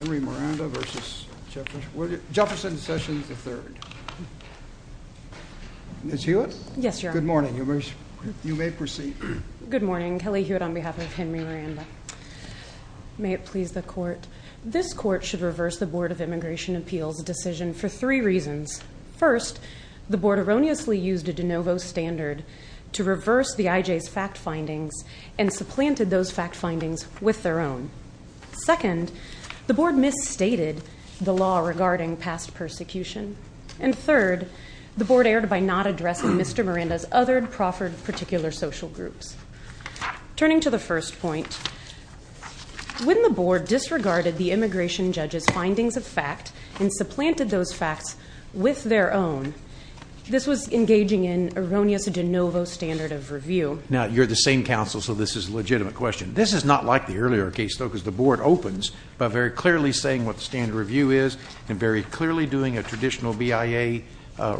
Henry Miranda v. Jefferson Sessions, III. Ms. Hewitt? Yes, Your Honor. Good morning. You may proceed. Good morning. Kelly Hewitt on behalf of Henry Miranda. May it please the Court. This Court should reverse the Board of Immigration Appeals' decision for three reasons. First, the Board erroneously used a de novo standard to reverse the IJ's fact findings and supplanted those fact findings with their own. Second, the Board misstated the law regarding past persecution. And third, the Board erred by not addressing Mr. Miranda's other proffered particular social groups. Turning to the first point, when the Board disregarded the immigration judge's findings of fact and supplanted those facts with their own, this was engaging in erroneous de novo standard of review. Now, you're the same counsel, so this is a legitimate question. This is not like the earlier case, though, because the Board opens by very clearly saying what the standard review is and very clearly doing a traditional BIA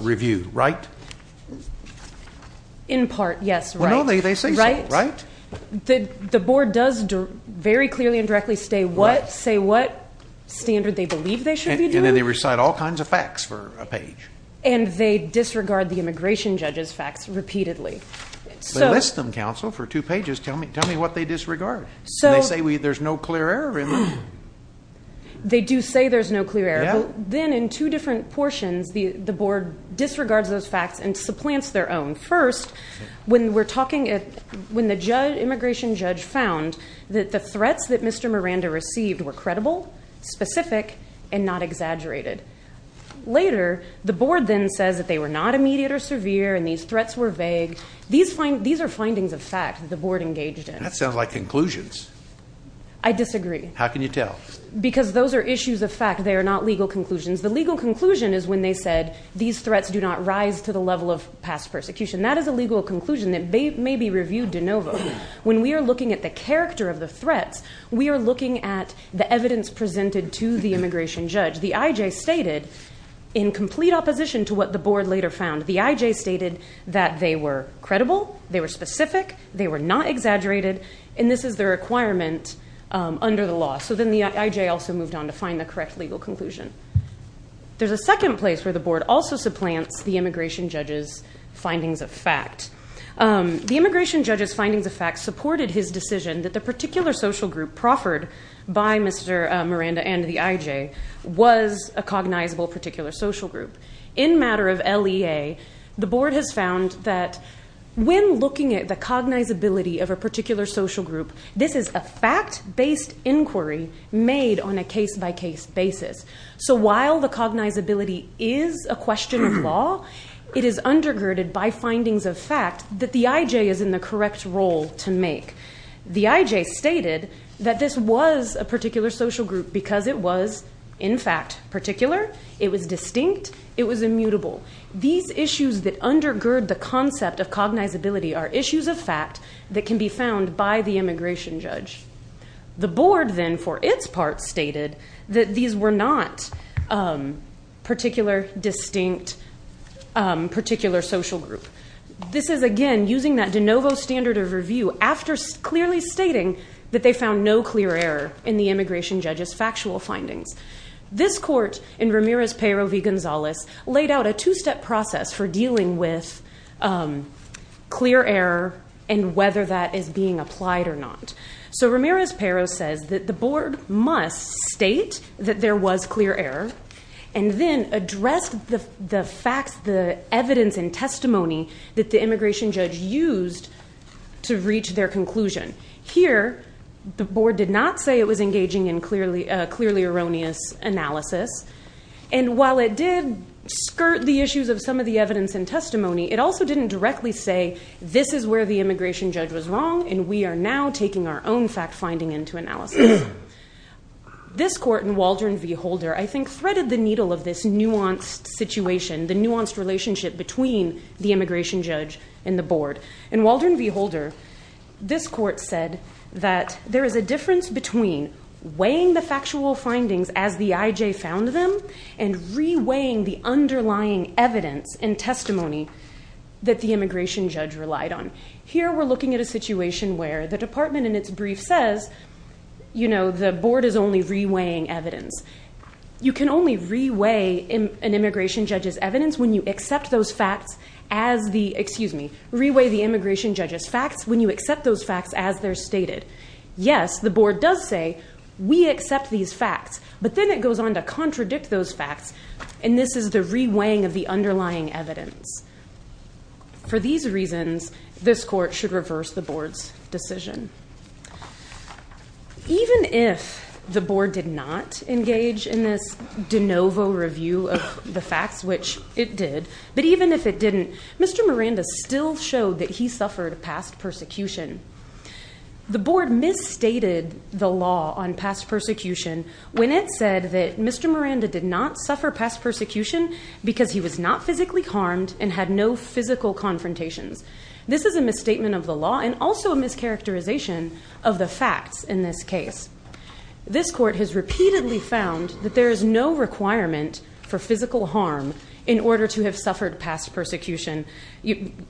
review, right? In part, yes, right. Well, no, they say so, right? The Board does very clearly and directly say what standard they believe they should be doing. And they disregard the immigration judge's facts repeatedly. They list them, counsel, for two pages. Tell me what they disregard. They say there's no clear error in them. They do say there's no clear error. Then in two different portions, the Board disregards those facts and supplants their own. First, when the immigration judge found that the threats that Mr. Miranda received were credible, specific, and not exaggerated. Later, the Board then says that they were not immediate or severe and these threats were vague. These are findings of fact that the Board engaged in. That sounds like conclusions. I disagree. How can you tell? Because those are issues of fact. They are not legal conclusions. The legal conclusion is when they said these threats do not rise to the level of past persecution. That is a legal conclusion that may be reviewed de novo. When we are looking at the character of the threats, we are looking at the evidence presented to the immigration judge. The I.J. stated, in complete opposition to what the Board later found, the I.J. stated that they were credible, they were specific, they were not exaggerated, and this is the requirement under the law. So then the I.J. also moved on to find the correct legal conclusion. There's a second place where the Board also supplants the immigration judge's findings of fact. The immigration judge's findings of fact supported his decision that the particular social group proffered by Mr. Miranda and the I.J. was a cognizable particular social group. In matter of LEA, the Board has found that when looking at the cognizability of a particular social group, this is a fact-based inquiry made on a case-by-case basis. So while the cognizability is a question of law, it is undergirded by findings of fact that the I.J. is in the correct role to make. The I.J. stated that this was a particular social group because it was, in fact, particular, it was distinct, it was immutable. These issues that undergird the concept of cognizability are issues of fact that can be found by the immigration judge. The Board then, for its part, stated that these were not particular, distinct, particular social group. This is, again, using that de novo standard of review after clearly stating that they found no clear error in the immigration judge's factual findings. This court in Ramirez-Pero v. Gonzalez laid out a two-step process for dealing with clear error and whether that is being applied or not. So Ramirez-Pero says that the Board must state that there was clear error and then address the facts, the evidence, and testimony that the immigration judge used to reach their conclusion. Here, the Board did not say it was engaging in clearly erroneous analysis. And while it did skirt the issues of some of the evidence and testimony, it also didn't directly say this is where the immigration judge was wrong and we are now taking our own fact finding into analysis. This court in Waldron v. Holder, I think, threaded the needle of this nuanced situation, the nuanced relationship between the immigration judge and the Board. In Waldron v. Holder, this court said that there is a difference between weighing the factual findings as the I.J. found them and re-weighing the underlying evidence and testimony that the immigration judge relied on. Here, we're looking at a situation where the department in its brief says, you know, the Board is only re-weighing evidence. You can only re-weigh an immigration judge's evidence when you accept those facts as the, excuse me, re-weigh the immigration judge's facts when you accept those facts as they're stated. Yes, the Board does say we accept these facts, but then it goes on to contradict those facts, and this is the re-weighing of the underlying evidence. For these reasons, this court should reverse the Board's decision. Even if the Board did not engage in this de novo review of the facts, which it did, but even if it didn't, Mr. Miranda still showed that he suffered past persecution. The Board misstated the law on past persecution when it said that Mr. Miranda did not suffer past persecution because he was not physically harmed and had no physical confrontations. This is a misstatement of the law and also a mischaracterization of the facts in this case. This court has repeatedly found that there is no requirement for physical harm in order to have suffered past persecution.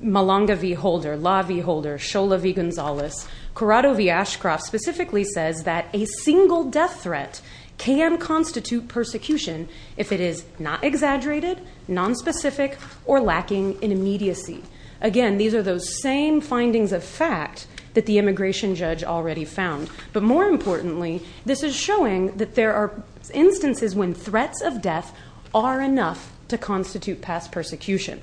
Malanga v. Holder, Law v. Holder, Shola v. Gonzalez, Corrado v. Ashcroft specifically says that a single death threat can constitute persecution if it is not exaggerated, nonspecific, or lacking in immediacy. Again, these are those same findings of fact that the immigration judge already found. But more importantly, this is showing that there are instances when threats of death are enough to constitute past persecution.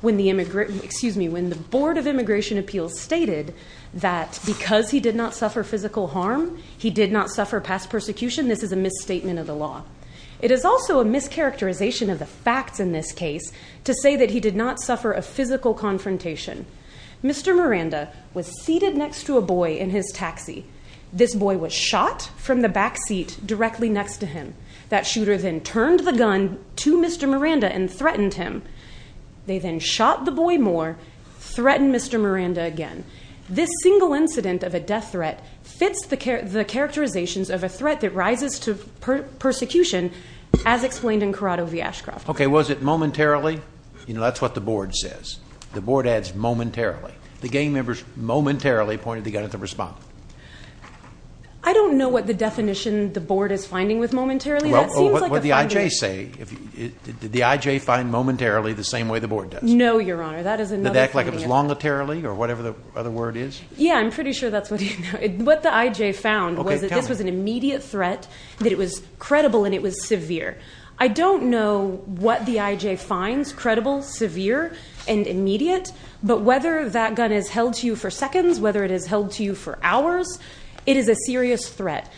When the Board of Immigration Appeals stated that because he did not suffer physical harm, he did not suffer past persecution, this is a misstatement of the law. It is also a mischaracterization of the facts in this case to say that he did not suffer a physical confrontation. Mr. Miranda was seated next to a boy in his taxi. This boy was shot from the back seat directly next to him. That shooter then turned the gun to Mr. Miranda and threatened him. They then shot the boy more, threatened Mr. Miranda again. This single incident of a death threat fits the characterizations of a threat that rises to persecution as explained in Corrado v. Ashcroft. Okay, was it momentarily? You know, that's what the Board says. The Board adds momentarily. The gang members momentarily pointed the gun at the respondent. I don't know what the definition the Board is finding with momentarily. Well, what did the I.J. say? Did the I.J. find momentarily the same way the Board does? No, Your Honor. Did it act like it was longitarily or whatever the other word is? Yeah, I'm pretty sure that's what he found. What the I.J. found was that this was an immediate threat, that it was credible, and it was severe. I don't know what the I.J. finds, credible, severe, and immediate, but whether that gun is held to you for seconds, whether it is held to you for hours, it is a serious threat.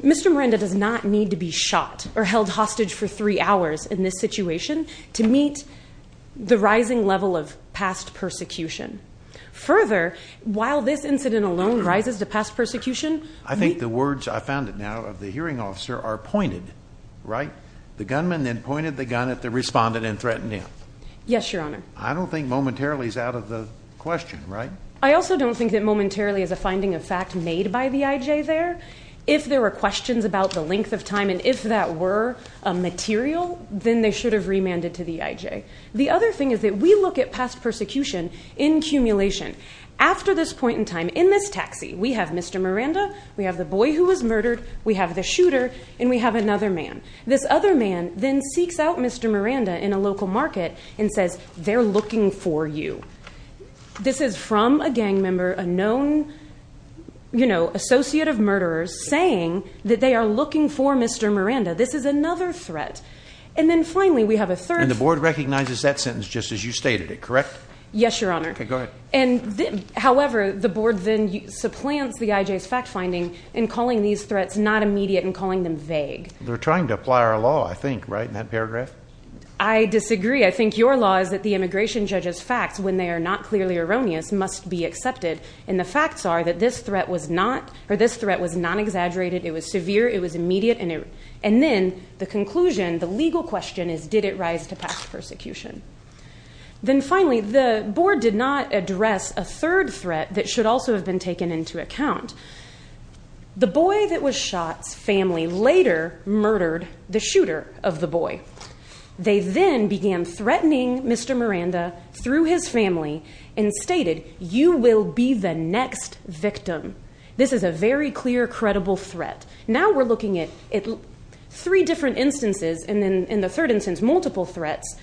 Mr. Miranda does not need to be shot or held hostage for three hours in this situation to meet the rising level of past persecution. Further, while this incident alone rises to past persecution. I think the words, I found it now, of the hearing officer are pointed, right? The gunman then pointed the gun at the respondent and threatened him. Yes, Your Honor. I don't think momentarily is out of the question, right? I also don't think that momentarily is a finding of fact made by the I.J. there. If there were questions about the length of time and if that were a material, then they should have remanded to the I.J. The other thing is that we look at past persecution in accumulation. After this point in time, in this taxi, we have Mr. Miranda, we have the boy who was murdered, we have the shooter, and we have another man. This other man then seeks out Mr. Miranda in a local market and says, they're looking for you. This is from a gang member, a known, you know, associate of murderers saying that they are looking for Mr. Miranda. This is another threat. And then finally we have a third. And the board recognizes that sentence just as you stated it, correct? Yes, Your Honor. Okay, go ahead. However, the board then supplants the I.J.'s fact finding in calling these threats not immediate and calling them vague. They're trying to apply our law, I think, right, in that paragraph? I disagree. I think your law is that the immigration judge's facts, when they are not clearly erroneous, must be accepted. And the facts are that this threat was not exaggerated. It was severe. It was immediate. And then the conclusion, the legal question, is did it rise to past persecution? Then finally, the board did not address a third threat that should also have been taken into account. The boy that was shot's family later murdered the shooter of the boy. They then began threatening Mr. Miranda through his family and stated, you will be the next victim. This is a very clear, credible threat. Now we're looking at three different instances, and then in the third instance multiple threats,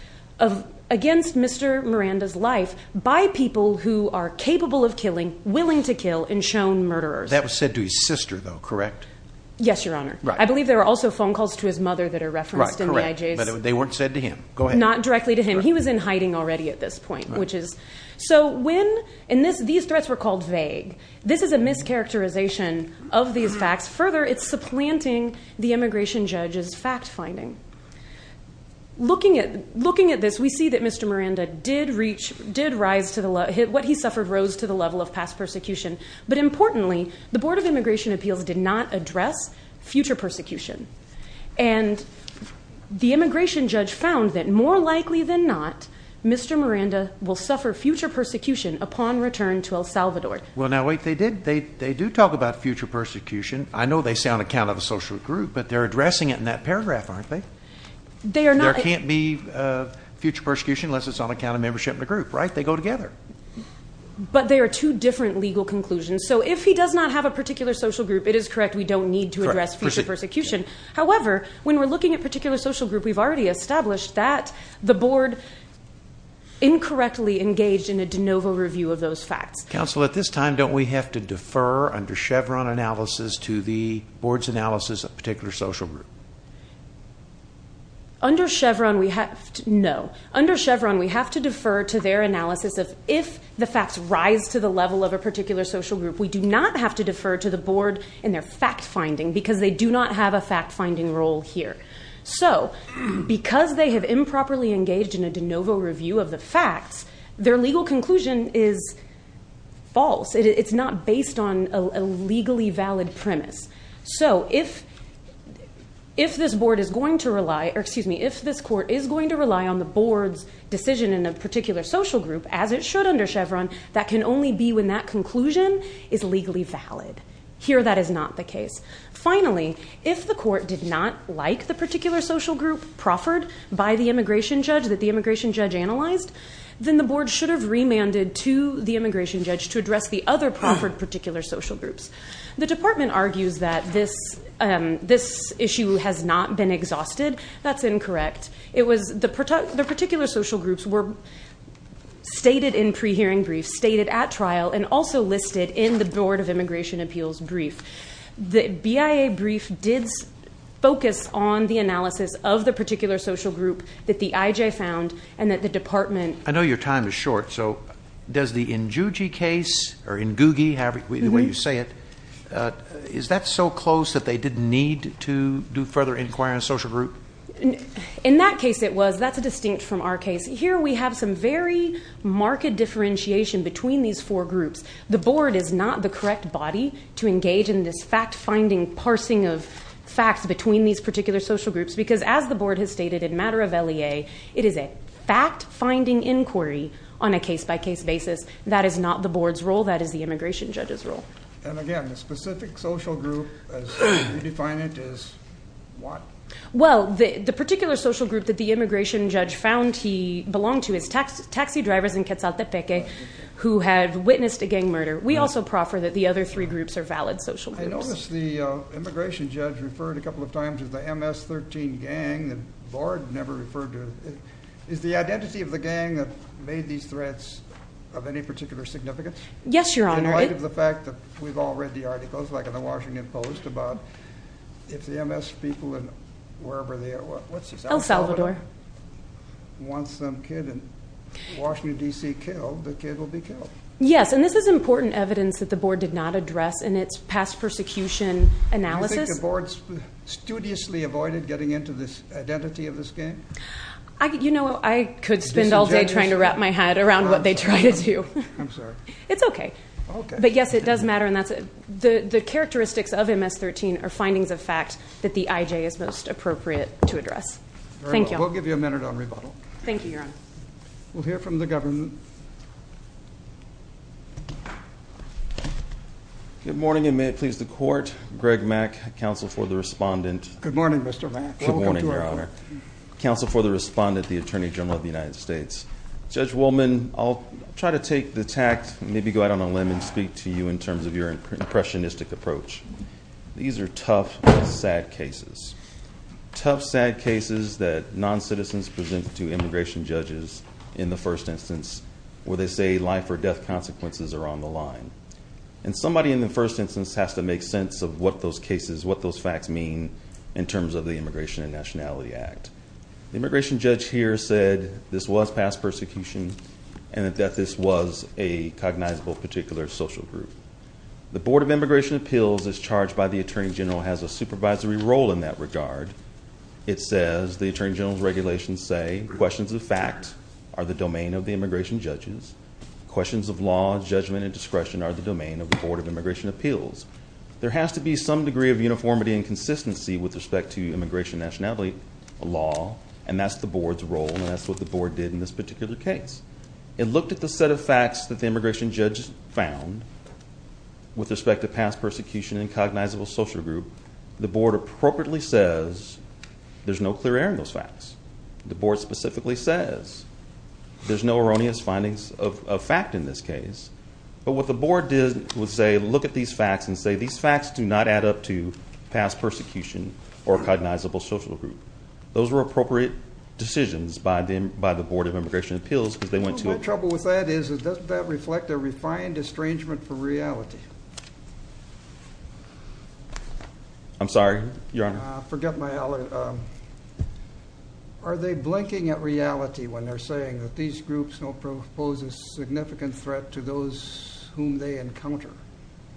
against Mr. Miranda's life by people who are capable of killing, willing to kill, and shown murderers. That was said to his sister, though, correct? Yes, Your Honor. I believe there were also phone calls to his mother that are referenced in the IJs. Right, correct. But they weren't said to him. Not directly to him. He was in hiding already at this point, which is. So when, and these threats were called vague. This is a mischaracterization of these facts. Further, it's supplanting the immigration judge's fact finding. Looking at this, we see that Mr. Miranda did rise to the, what he suffered rose to the level of past persecution. But importantly, the Board of Immigration Appeals did not address future persecution. And the immigration judge found that more likely than not, Mr. Miranda will suffer future persecution upon return to El Salvador. Well, now wait, they did. They do talk about future persecution. I know they say on account of a social group, but they're addressing it in that paragraph, aren't they? They are not. There can't be future persecution unless it's on account of membership in a group, right? They go together. But they are two different legal conclusions. So if he does not have a particular social group, it is correct. We don't need to address future persecution. However, when we're looking at particular social group, we've already established that the board incorrectly engaged in a de novo review of those facts. Counsel, at this time, don't we have to defer under Chevron analysis to the board's analysis of a particular social group? Under Chevron, we have to, no. If the facts rise to the level of a particular social group, we do not have to defer to the board in their fact-finding because they do not have a fact-finding role here. So because they have improperly engaged in a de novo review of the facts, their legal conclusion is false. It's not based on a legally valid premise. So if this board is going to rely, or excuse me, if this court is going to rely on the board's decision in a particular social group, as it should under Chevron, that can only be when that conclusion is legally valid. Here, that is not the case. Finally, if the court did not like the particular social group proffered by the immigration judge that the immigration judge analyzed, then the board should have remanded to the immigration judge to address the other proffered particular social groups. The department argues that this issue has not been exhausted. That's incorrect. It was the particular social groups were stated in pre-hearing briefs, stated at trial, and also listed in the Board of Immigration Appeals brief. The BIA brief did focus on the analysis of the particular social group that the IJ found and that the department- I know your time is short, so does the Njugi case, or Ngugi, the way you say it, is that so close that they didn't need to do further inquiry on a social group? In that case, it was. That's a distinct from our case. Here, we have some very marked differentiation between these four groups. The board is not the correct body to engage in this fact-finding, parsing of facts between these particular social groups, because as the board has stated in matter of LEA, it is a fact-finding inquiry on a case-by-case basis. That is not the board's role. That is the immigration judge's role. And again, the specific social group as you define it is what? Well, the particular social group that the immigration judge found he belonged to is taxi drivers in Quetzaltepeque who have witnessed a gang murder. We also proffer that the other three groups are valid social groups. I noticed the immigration judge referred a couple of times to the MS-13 gang. The board never referred to it. Is the identity of the gang that made these threats of any particular significance? Yes, Your Honor. In light of the fact that we've all read the articles like in the Washington Post about if the MS people in wherever they are, what's this? El Salvador. Once some kid in Washington, D.C. killed, the kid will be killed. Yes, and this is important evidence that the board did not address in its past persecution analysis. Do you think the board studiously avoided getting into this identity of this gang? You know, I could spend all day trying to wrap my head around what they try to do. I'm sorry. It's okay. But, yes, it does matter. The characteristics of MS-13 are findings of fact that the IJ is most appropriate to address. Thank you. We'll give you a minute on rebuttal. Thank you, Your Honor. We'll hear from the government. Good morning, and may it please the Court. Greg Mack, counsel for the respondent. Good morning, Mr. Mack. Good morning, Your Honor. Counsel for the respondent, the Attorney General of the United States. Judge Woolman, I'll try to take the tact and maybe go out on a limb and speak to you in terms of your impressionistic approach. These are tough, sad cases. Tough, sad cases that noncitizens present to immigration judges in the first instance where they say life or death consequences are on the line. And somebody in the first instance has to make sense of what those cases, what those facts mean in terms of the Immigration and Nationality Act. The immigration judge here said this was past persecution and that this was a cognizable particular social group. The Board of Immigration Appeals as charged by the Attorney General has a supervisory role in that regard. It says the Attorney General's regulations say questions of fact are the domain of the immigration judges. Questions of law, judgment, and discretion are the domain of the Board of Immigration Appeals. There has to be some degree of uniformity and consistency with respect to immigration nationality law, and that's the Board's role, and that's what the Board did in this particular case. It looked at the set of facts that the immigration judge found with respect to past persecution and cognizable social group. The Board appropriately says there's no clear error in those facts. The Board specifically says there's no erroneous findings of fact in this case. But what the Board did was say look at these facts and say these facts do not add up to past persecution or cognizable social group. Those were appropriate decisions by the Board of Immigration Appeals as they went to it. Well, my trouble with that is doesn't that reflect a refined estrangement from reality? I'm sorry, Your Honor. I forget my allergies. Are they blinking at reality when they're saying that these groups don't pose a significant threat to those whom they encounter?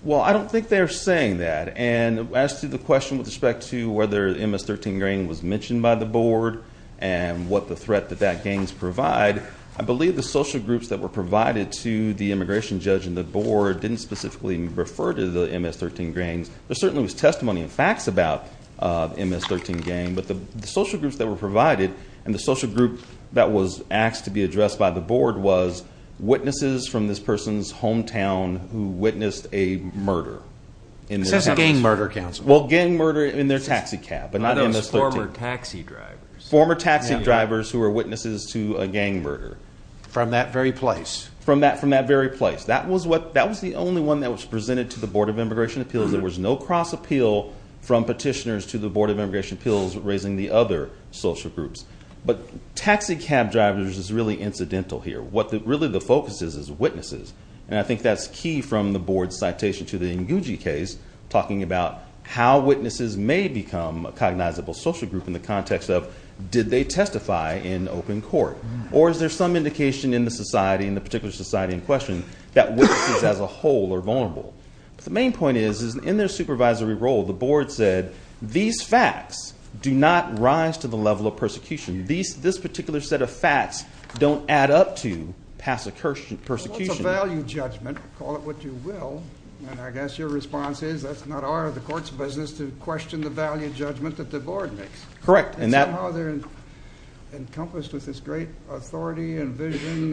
Well, I don't think they're saying that. And as to the question with respect to whether MS-13 grain was mentioned by the Board and what the threat that that gains provide, I believe the social groups that were provided to the immigration judge and the Board didn't specifically refer to the MS-13 grains. There certainly was testimony and facts about MS-13 grain. But the social groups that were provided and the social group that was asked to be addressed by the Board was witnesses from this person's hometown who witnessed a murder. This has a gang murder, counsel. Well, gang murder in their taxi cab, but not MS-13. Those former taxi drivers. Former taxi drivers who were witnesses to a gang murder. From that very place. From that very place. That was the only one that was presented to the Board of Immigration Appeals. There was no cross appeal from petitioners to the Board of Immigration Appeals raising the other social groups. But taxi cab drivers is really incidental here. What really the focus is is witnesses. And I think that's key from the Board's citation to the Nguji case, talking about how witnesses may become a cognizable social group in the context of did they testify in open court? Or is there some indication in the society, in the particular society in question, that witnesses as a whole are vulnerable? But the main point is, is in their supervisory role, the Board said these facts do not rise to the level of persecution. This particular set of facts don't add up to passive persecution. Well, it's a value judgment. Call it what you will. And I guess your response is that's not our or the court's business to question the value judgment that the Board makes. Correct. And somehow they're encompassed with this great authority and vision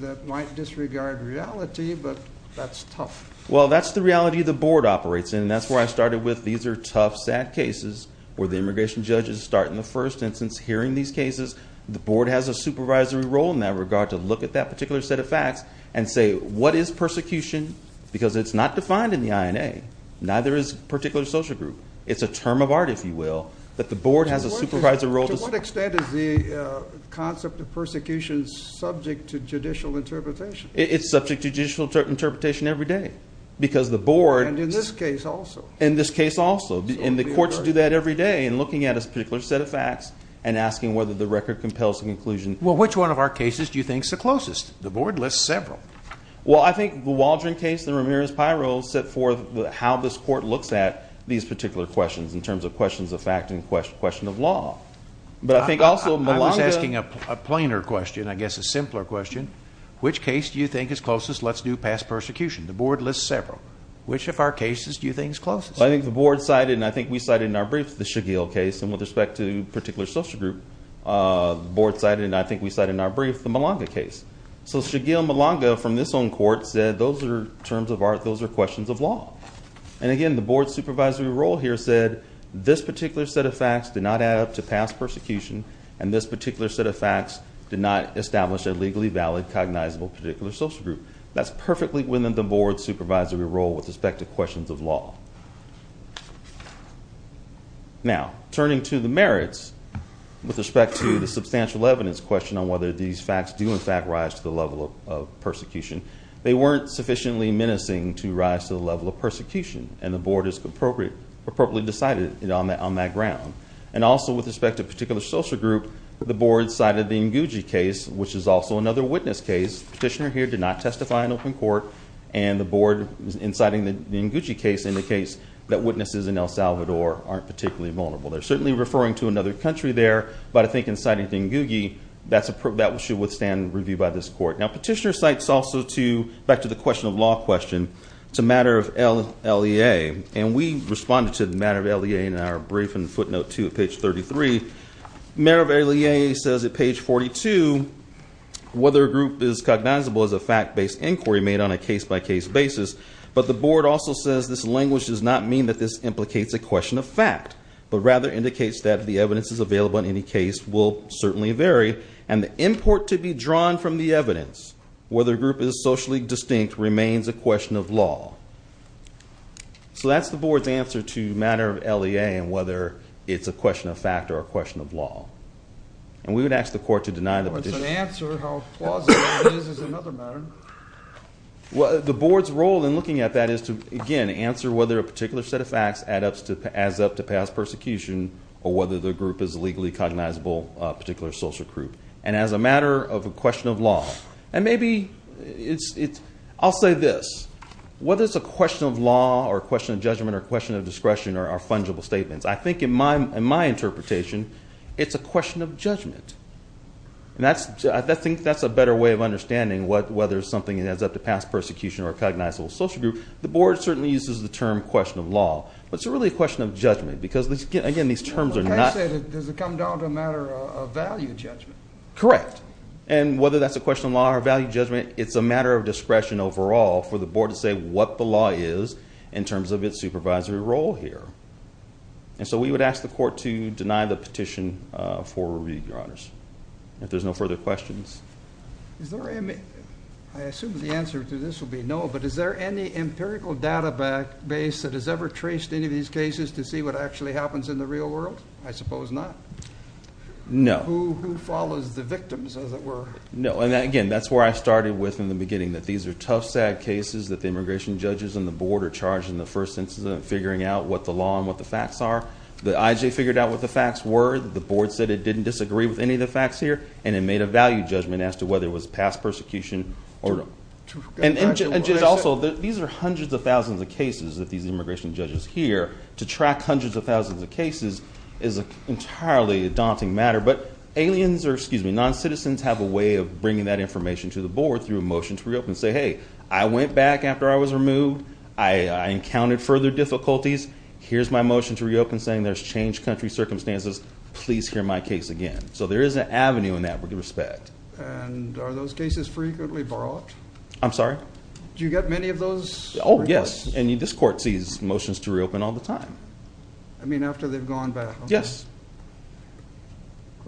that might disregard reality, but that's tough. Well, that's the reality the Board operates in, and that's where I started with these are tough, sad cases where the immigration judges start in the first instance hearing these cases. The Board has a supervisory role in that regard to look at that particular set of facts and say, what is persecution? Because it's not defined in the INA. Neither is a particular social group. It's a term of art, if you will. But the Board has a supervisory role. To what extent is the concept of persecution subject to judicial interpretation? It's subject to judicial interpretation every day because the Board. And in this case also. In this case also. And the courts do that every day in looking at a particular set of facts and asking whether the record compels a conclusion. Well, which one of our cases do you think is the closest? The Board lists several. Well, I think the Waldron case and Ramirez-Pirro set forth how this court looks at these particular questions in terms of questions of fact and question of law. But I think also Malanga. I was asking a plainer question, I guess a simpler question. Which case do you think is closest? Let's do past persecution. The Board lists several. Which of our cases do you think is closest? I think the Board cited, and I think we cited in our brief, the Shigiel case. And with respect to a particular social group, the Board cited, and I think we cited in our brief, the Malanga case. So Shigiel Malanga from this own court said those are terms of art, those are questions of law. And again, the Board's supervisory role here said this particular set of facts did not add up to past persecution, and this particular set of facts did not establish a legally valid cognizable particular social group. That's perfectly within the Board's supervisory role with respect to questions of law. Now, turning to the merits with respect to the substantial evidence question on whether these facts do in fact rise to the level of persecution. They weren't sufficiently menacing to rise to the level of persecution, and the Board has appropriately decided on that ground. And also with respect to a particular social group, the Board cited the Nguji case, which is also another witness case. This petitioner here did not testify in open court, and the Board, in citing the Nguji case, indicates that witnesses in El Salvador aren't particularly vulnerable. They're certainly referring to another country there, but I think in citing Nguji, that should withstand review by this court. Now, petitioner cites also to, back to the question of law question, it's a matter of LEA. And we responded to the matter of LEA in our brief in footnote 2 at page 33. Merit of LEA says at page 42, whether a group is cognizable as a fact-based inquiry made on a case-by-case basis, but the Board also says this language does not mean that this implicates a question of fact, but rather indicates that the evidence is available in any case will certainly vary, and the import to be drawn from the evidence, whether a group is socially distinct, remains a question of law. So that's the Board's answer to the matter of LEA and whether it's a question of fact or a question of law. And we would ask the court to deny the petitioner. Well, it's an answer. How plausible it is is another matter. The Board's role in looking at that is to, again, answer whether a particular set of facts adds up to pass persecution or whether the group is legally cognizable, a particular social group, and as a matter of a question of law. And maybe it's – I'll say this. Whether it's a question of law or a question of judgment or a question of discretion are fungible statements. I think in my interpretation, it's a question of judgment. And that's – I think that's a better way of understanding whether something adds up to pass persecution or a cognizable social group. The Board certainly uses the term question of law, but it's really a question of judgment because, again, these terms are not – Does it come down to a matter of value judgment? Correct. And whether that's a question of law or value judgment, it's a matter of discretion overall for the Board to say what the law is in terms of its supervisory role here. And so we would ask the court to deny the petition for review, Your Honors, if there's no further questions. Is there any – I assume the answer to this will be no, but is there any empirical database that has ever traced any of these cases to see what actually happens in the real world? I suppose not. No. Who follows the victims, as it were? No. And, again, that's where I started with in the beginning, that these are tough, sad cases that the immigration judges and the Board are charged in the first instance of figuring out what the law and what the facts are. The IJ figured out what the facts were. The Board said it didn't disagree with any of the facts here. And it made a value judgment as to whether it was pass persecution or not. And also, these are hundreds of thousands of cases that these immigration judges hear. To track hundreds of thousands of cases is entirely a daunting matter. But aliens or, excuse me, non-citizens have a way of bringing that information to the Board through a motion to reopen. Say, hey, I went back after I was removed. I encountered further difficulties. Here's my motion to reopen saying there's changed country circumstances. Please hear my case again. So there is an avenue in that respect. And are those cases frequently brought? I'm sorry? Do you get many of those? Oh, yes. And this court sees motions to reopen all the time. I mean, after they've gone back. Yes.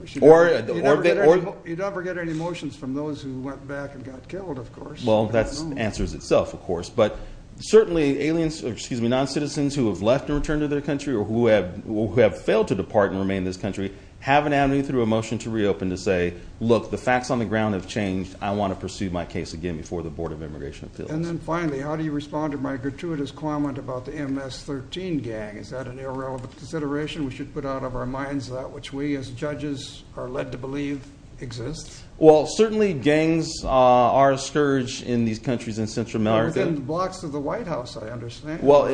You don't ever get any motions from those who went back and got killed, of course. Well, that answers itself, of course. But certainly aliens or, excuse me, non-citizens who have left and returned to their country or who have failed to depart and remain in this country have an avenue through a motion to reopen to say, look, the facts on the ground have changed. I want to pursue my case again before the Board of Immigration Appeals. And then finally, how do you respond to my gratuitous comment about the MS-13 gang? Is that an irrelevant consideration we should put out of our minds? That which we as judges are led to believe exists? Well, certainly gangs are a scourge in these countries in Central America. They're within blocks of the White House, I understand. Well,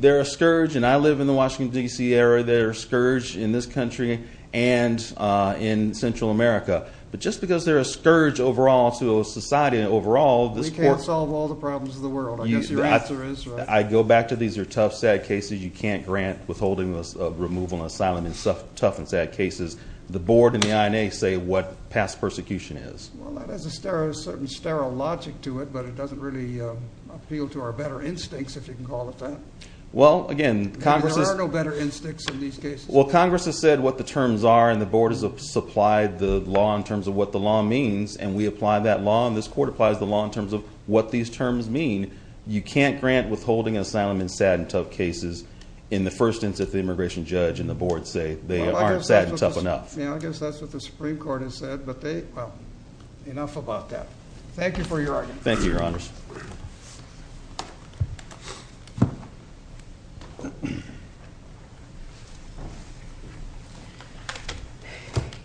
they're a scourge. And I live in the Washington, D.C. area. They're a scourge in this country and in Central America. But just because they're a scourge overall to a society overall, this court – We can't solve all the problems of the world. I guess your answer is – I go back to these are tough, sad cases. You can't grant withholding of removal and asylum in tough and sad cases. The board and the INA say what past persecution is. Well, that has a certain sterile logic to it, but it doesn't really appeal to our better instincts, if you can call it that. Well, again, Congress has – There are no better instincts in these cases. Well, Congress has said what the terms are, and the board has supplied the law in terms of what the law means. And we apply that law, and this court applies the law in terms of what these terms mean. You can't grant withholding asylum in sad and tough cases in the first instance that the immigration judge and the board say they aren't sad and tough enough. I guess that's what the Supreme Court has said, but they – Well, enough about that. Thank you for your argument. Thank you, Your Honors.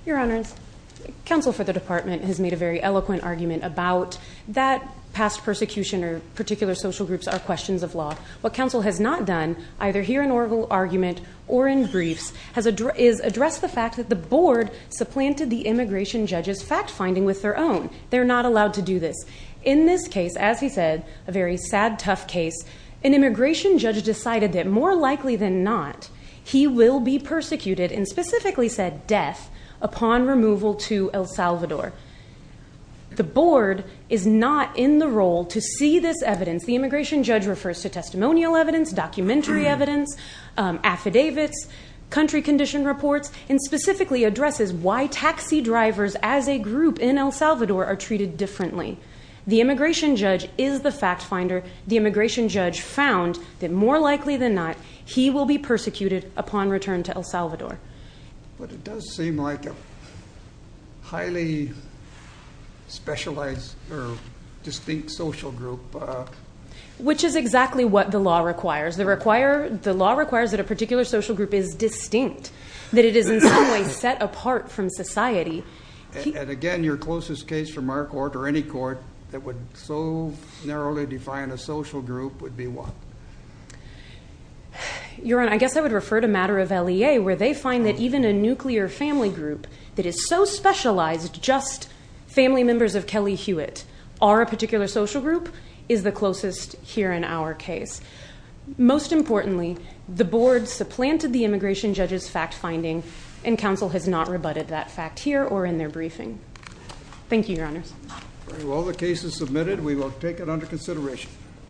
Your Honors, counsel for the department has made a very eloquent argument about that past persecution or particular social groups are questions of law. What counsel has not done, either here in oral argument or in briefs, is address the fact that the board supplanted the immigration judge's fact-finding with their own. They're not allowed to do this. In this case, as he said, a very sad, tough case, an immigration judge decided that more likely than not, he will be persecuted, and specifically said death, upon removal to El Salvador. The board is not in the role to see this evidence. The immigration judge refers to testimonial evidence, documentary evidence, affidavits, country condition reports, and specifically addresses why taxi drivers as a group in El Salvador are treated differently. The immigration judge is the fact-finder. The immigration judge found that more likely than not, he will be persecuted upon return to El Salvador. But it does seem like a highly specialized or distinct social group. Which is exactly what the law requires. The law requires that a particular social group is distinct, that it is in some way set apart from society. And again, your closest case from our court or any court that would so narrowly define a social group would be what? Your Honor, I guess I would refer to a matter of LEA, where they find that even a nuclear family group that is so specialized, just family members of Kelly Hewitt are a particular social group, is the closest here in our case. Most importantly, the board supplanted the immigration judge's fact-finding, and counsel has not rebutted that fact here or in their briefing. Thank you, Your Honors. All the cases submitted, we will take it under consideration.